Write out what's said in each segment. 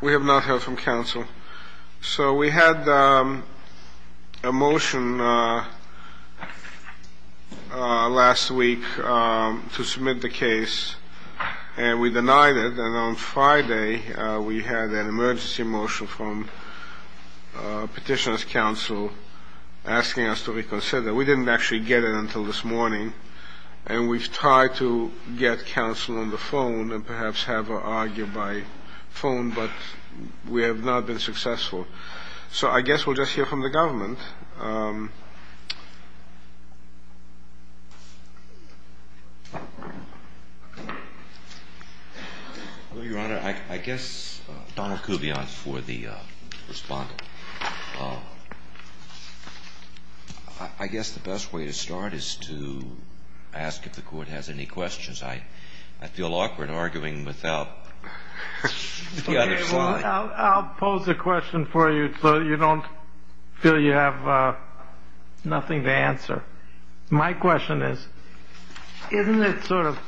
We have not heard from counsel. So we had a motion last week to submit the case, and we denied it. And on Friday we had an emergency motion from Petitioner's Counsel asking us to reconsider. We didn't actually get it until this morning, and we've tried to get counsel on the phone and perhaps have her argue by phone, but we have not been successful. So I guess we'll just hear from the government. I guess the best way to start is to ask if the Court has any questions. I feel awkward arguing without the other slide. I'll pose a question for you so you don't feel you have nothing to answer. My question is, isn't it sort of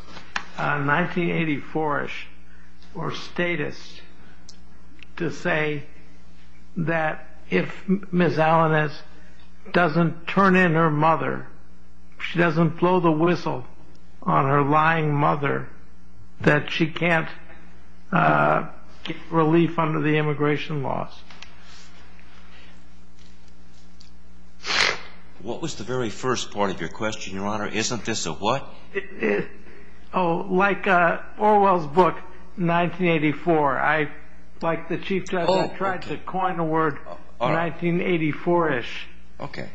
1984ish or statist to say that if Ms. Alaniz doesn't turn in her mother, she doesn't blow the whistle on her lying mother, that she can't get relief under the immigration laws? What was the very first part of your question, Your Honor? Isn't this a what? Oh, like Orwell's book, 1984. Like the Chief Justice tried to coin a word, 1984ish. Okay.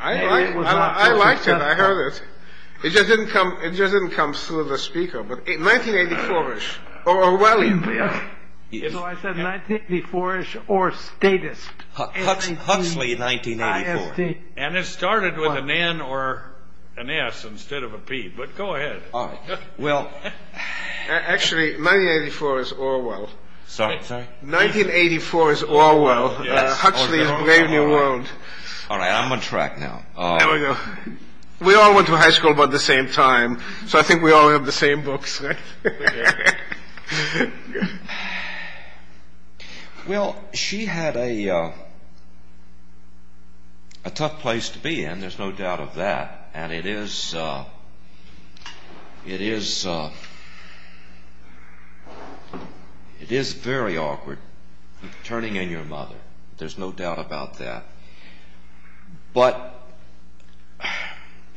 I liked it. I heard it. It just didn't come through the speaker, but 1984ish or Orwellian. So I said 1984ish or statist. Huxley, 1984. And it started with an N or an S instead of a P, but go ahead. Actually, 1984 is Orwell. Sorry? 1984 is Orwell, Huxley's Brave New World. All right, I'm on track now. There we go. We all went to high school about the same time, so I think we all have the same books, right? Well, she had a tough place to be in, there's no doubt of that. And it is very awkward turning in your mother. There's no doubt about that. But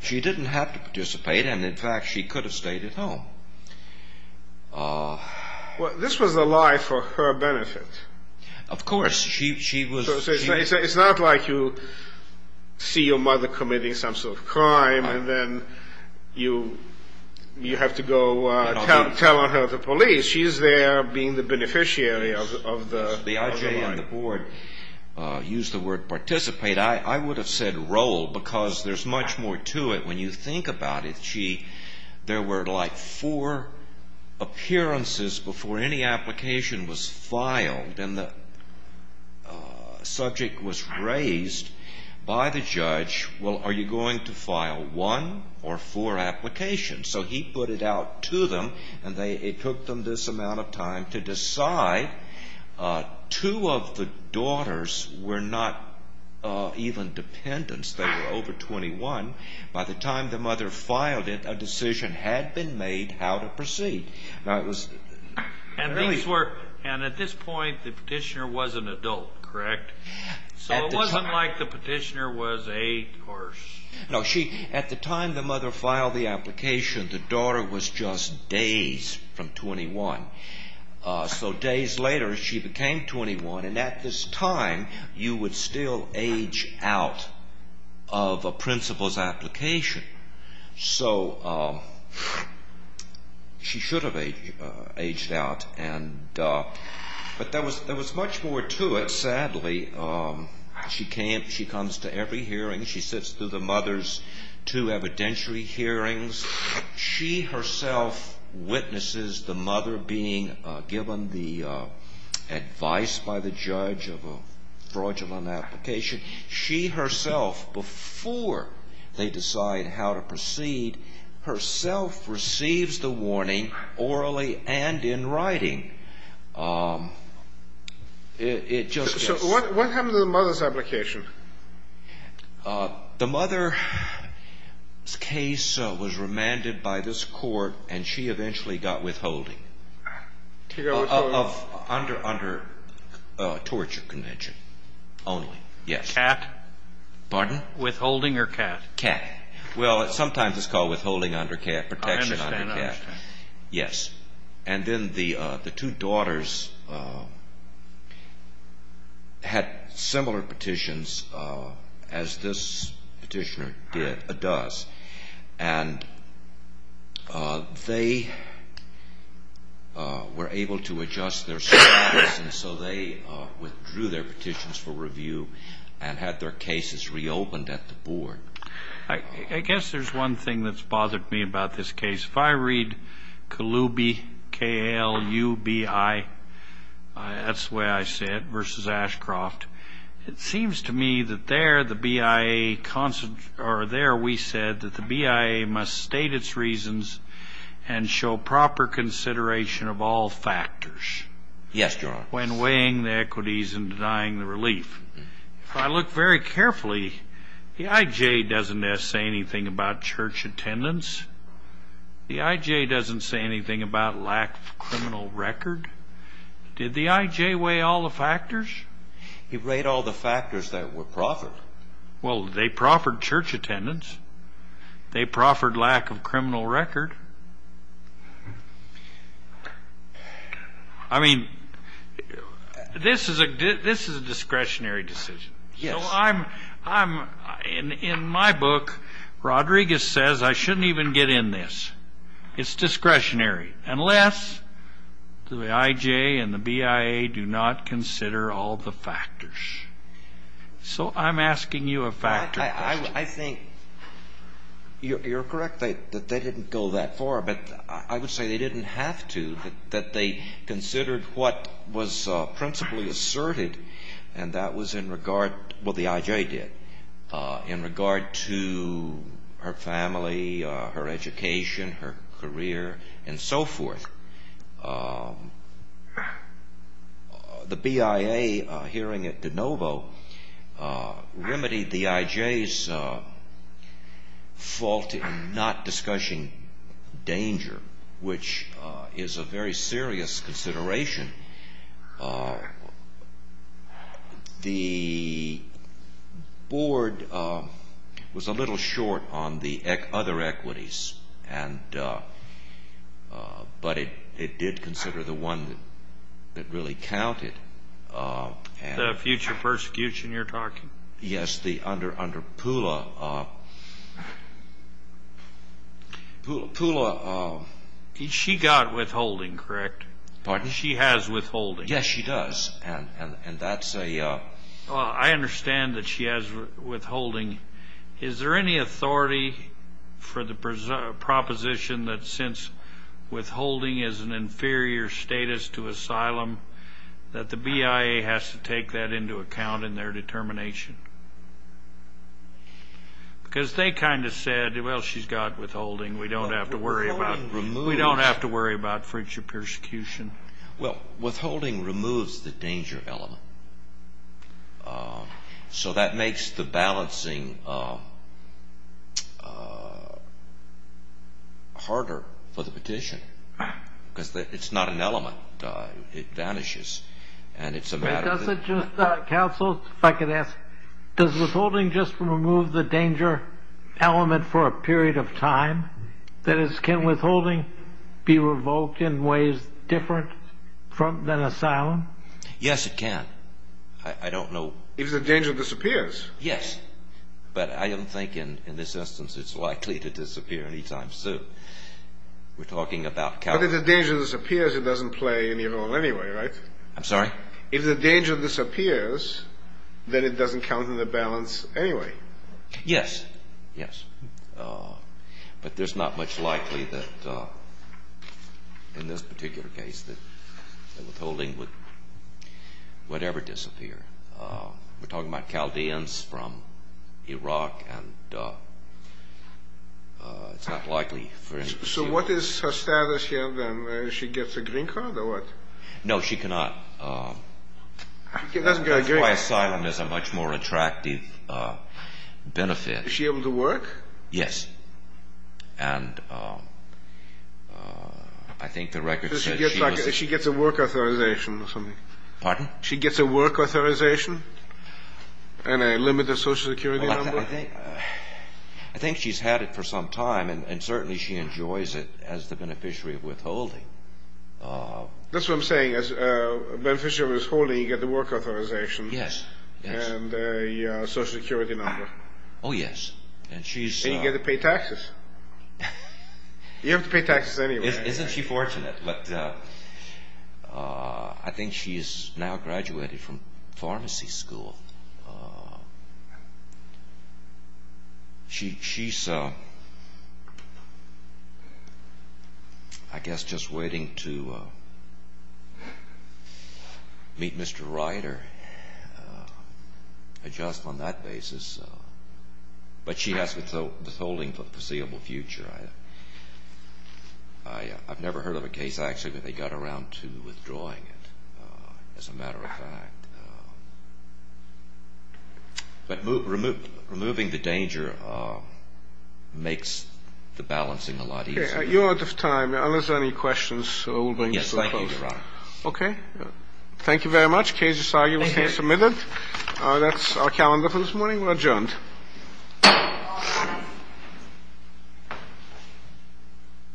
she didn't have to participate and, in fact, she could have stayed at home. Well, this was a lie for her benefit. Of course. It's not like you see your mother committing some sort of crime and then you have to go tell on her to police. She's there being the beneficiary of the lie. She and the board used the word participate. I would have said role because there's much more to it when you think about it. Gee, there were like four appearances before any application was filed. And the subject was raised by the judge, well, are you going to file one or four applications? So he put it out to them and it took them this amount of time to decide. Two of the daughters were not even dependents. They were over 21. By the time the mother filed it, a decision had been made how to proceed. And at this point, the petitioner was an adult, correct? So it wasn't like the petitioner was eight. No, at the time the mother filed the application, the daughter was just days from 21. So days later, she became 21, and at this time, you would still age out of a principal's application. So she should have aged out. But there was much more to it, sadly. She comes to every hearing. She sits through the mother's two evidentiary hearings. She herself witnesses the mother being given the advice by the judge of a fraudulent application. She herself, before they decide how to proceed, herself receives the warning orally and in writing. So what happened to the mother's application? The mother's case was remanded by this court, and she eventually got withholding under torture convention only. CAT? Pardon? Withholding or CAT? CAT. Well, sometimes it's called withholding under CAT, protection under CAT. I understand. Yes. And then the two daughters had similar petitions as this petitioner does, and they were able to adjust their status, and so they withdrew their petitions for review and had their cases reopened at the board. I guess there's one thing that's bothered me about this case. If I read Kalubi, K-A-L-U-B-I, that's the way I say it, versus Ashcroft, it seems to me that there we said that the BIA must state its reasons and show proper consideration of all factors. Yes, Your Honor. When weighing the equities and denying the relief. If I look very carefully, the I.J. doesn't say anything about church attendance. The I.J. doesn't say anything about lack of criminal record. Did the I.J. weigh all the factors? He weighed all the factors that were proffered. Well, they proffered church attendance. They proffered lack of criminal record. I mean, this is a discretionary decision. Yes. In my book, Rodriguez says I shouldn't even get in this. It's discretionary, unless the I.J. and the BIA do not consider all the factors. So I'm asking you a factor question. I think you're correct that they didn't go that far, but I would say they didn't have to, that they considered what was principally asserted, and that was in regard to what the I.J. did, in regard to her family, her education, her career, and so forth. The BIA, hearing it de novo, remedied the I.J.'s fault in not discussing danger, which is a very serious consideration. The board was a little short on the other equities, but it did consider the one that really counted. The future persecution you're talking? Yes, the under Pula. She got withholding, correct? Pardon? She has withholding. Yes, she does. I understand that she has withholding. Is there any authority for the proposition that since withholding is an inferior status to asylum, that the BIA has to take that into account in their determination? Because they kind of said, well, she's got withholding. We don't have to worry about future persecution. Well, withholding removes the danger element, so that makes the balancing harder for the petition, because it's not an element. It vanishes, and it's a matter of- Counsel, if I could ask, does withholding just remove the danger element for a period of time? That is, can withholding be revoked in ways different than asylum? Yes, it can. I don't know- If the danger disappears. Yes, but I don't think in this instance it's likely to disappear any time soon. We're talking about- But if the danger disappears, it doesn't play any role anyway, right? I'm sorry? If the danger disappears, then it doesn't count in the balance anyway. Yes, yes. But there's not much likely that in this particular case that withholding would ever disappear. We're talking about Chaldeans from Iraq, and it's not likely for- So what is her status here, then? She gets a green card or what? No, she cannot- That's very good. Before asylum, there's a much more attractive benefit. Is she able to work? Yes. And I think the record says she was- She gets a work authorization or something. Pardon? She gets a work authorization and a limited Social Security number? I think she's had it for some time, and certainly she enjoys it as the beneficiary of withholding. That's what I'm saying. As a beneficiary of withholding, you get the work authorization and a Social Security number. Oh, yes. And you get to pay taxes. You have to pay taxes anyway. Isn't she fortunate? But I think she's now graduated from pharmacy school. She's, I guess, just waiting to meet Mr. Ryder, adjust on that basis, but she has withholding for the foreseeable future. I've never heard of a case, actually, where they got around to withdrawing it, as a matter of fact. But removing the danger makes the balancing a lot easier. You're out of time. Unless there are any questions, we'll bring this to a close. Yes, thank you, Your Honor. Okay. Thank you very much. Case is arguably submitted. Thank you. That's our calendar for this morning. We're adjourned. All rise.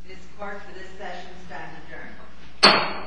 This court for this session stands adjourned.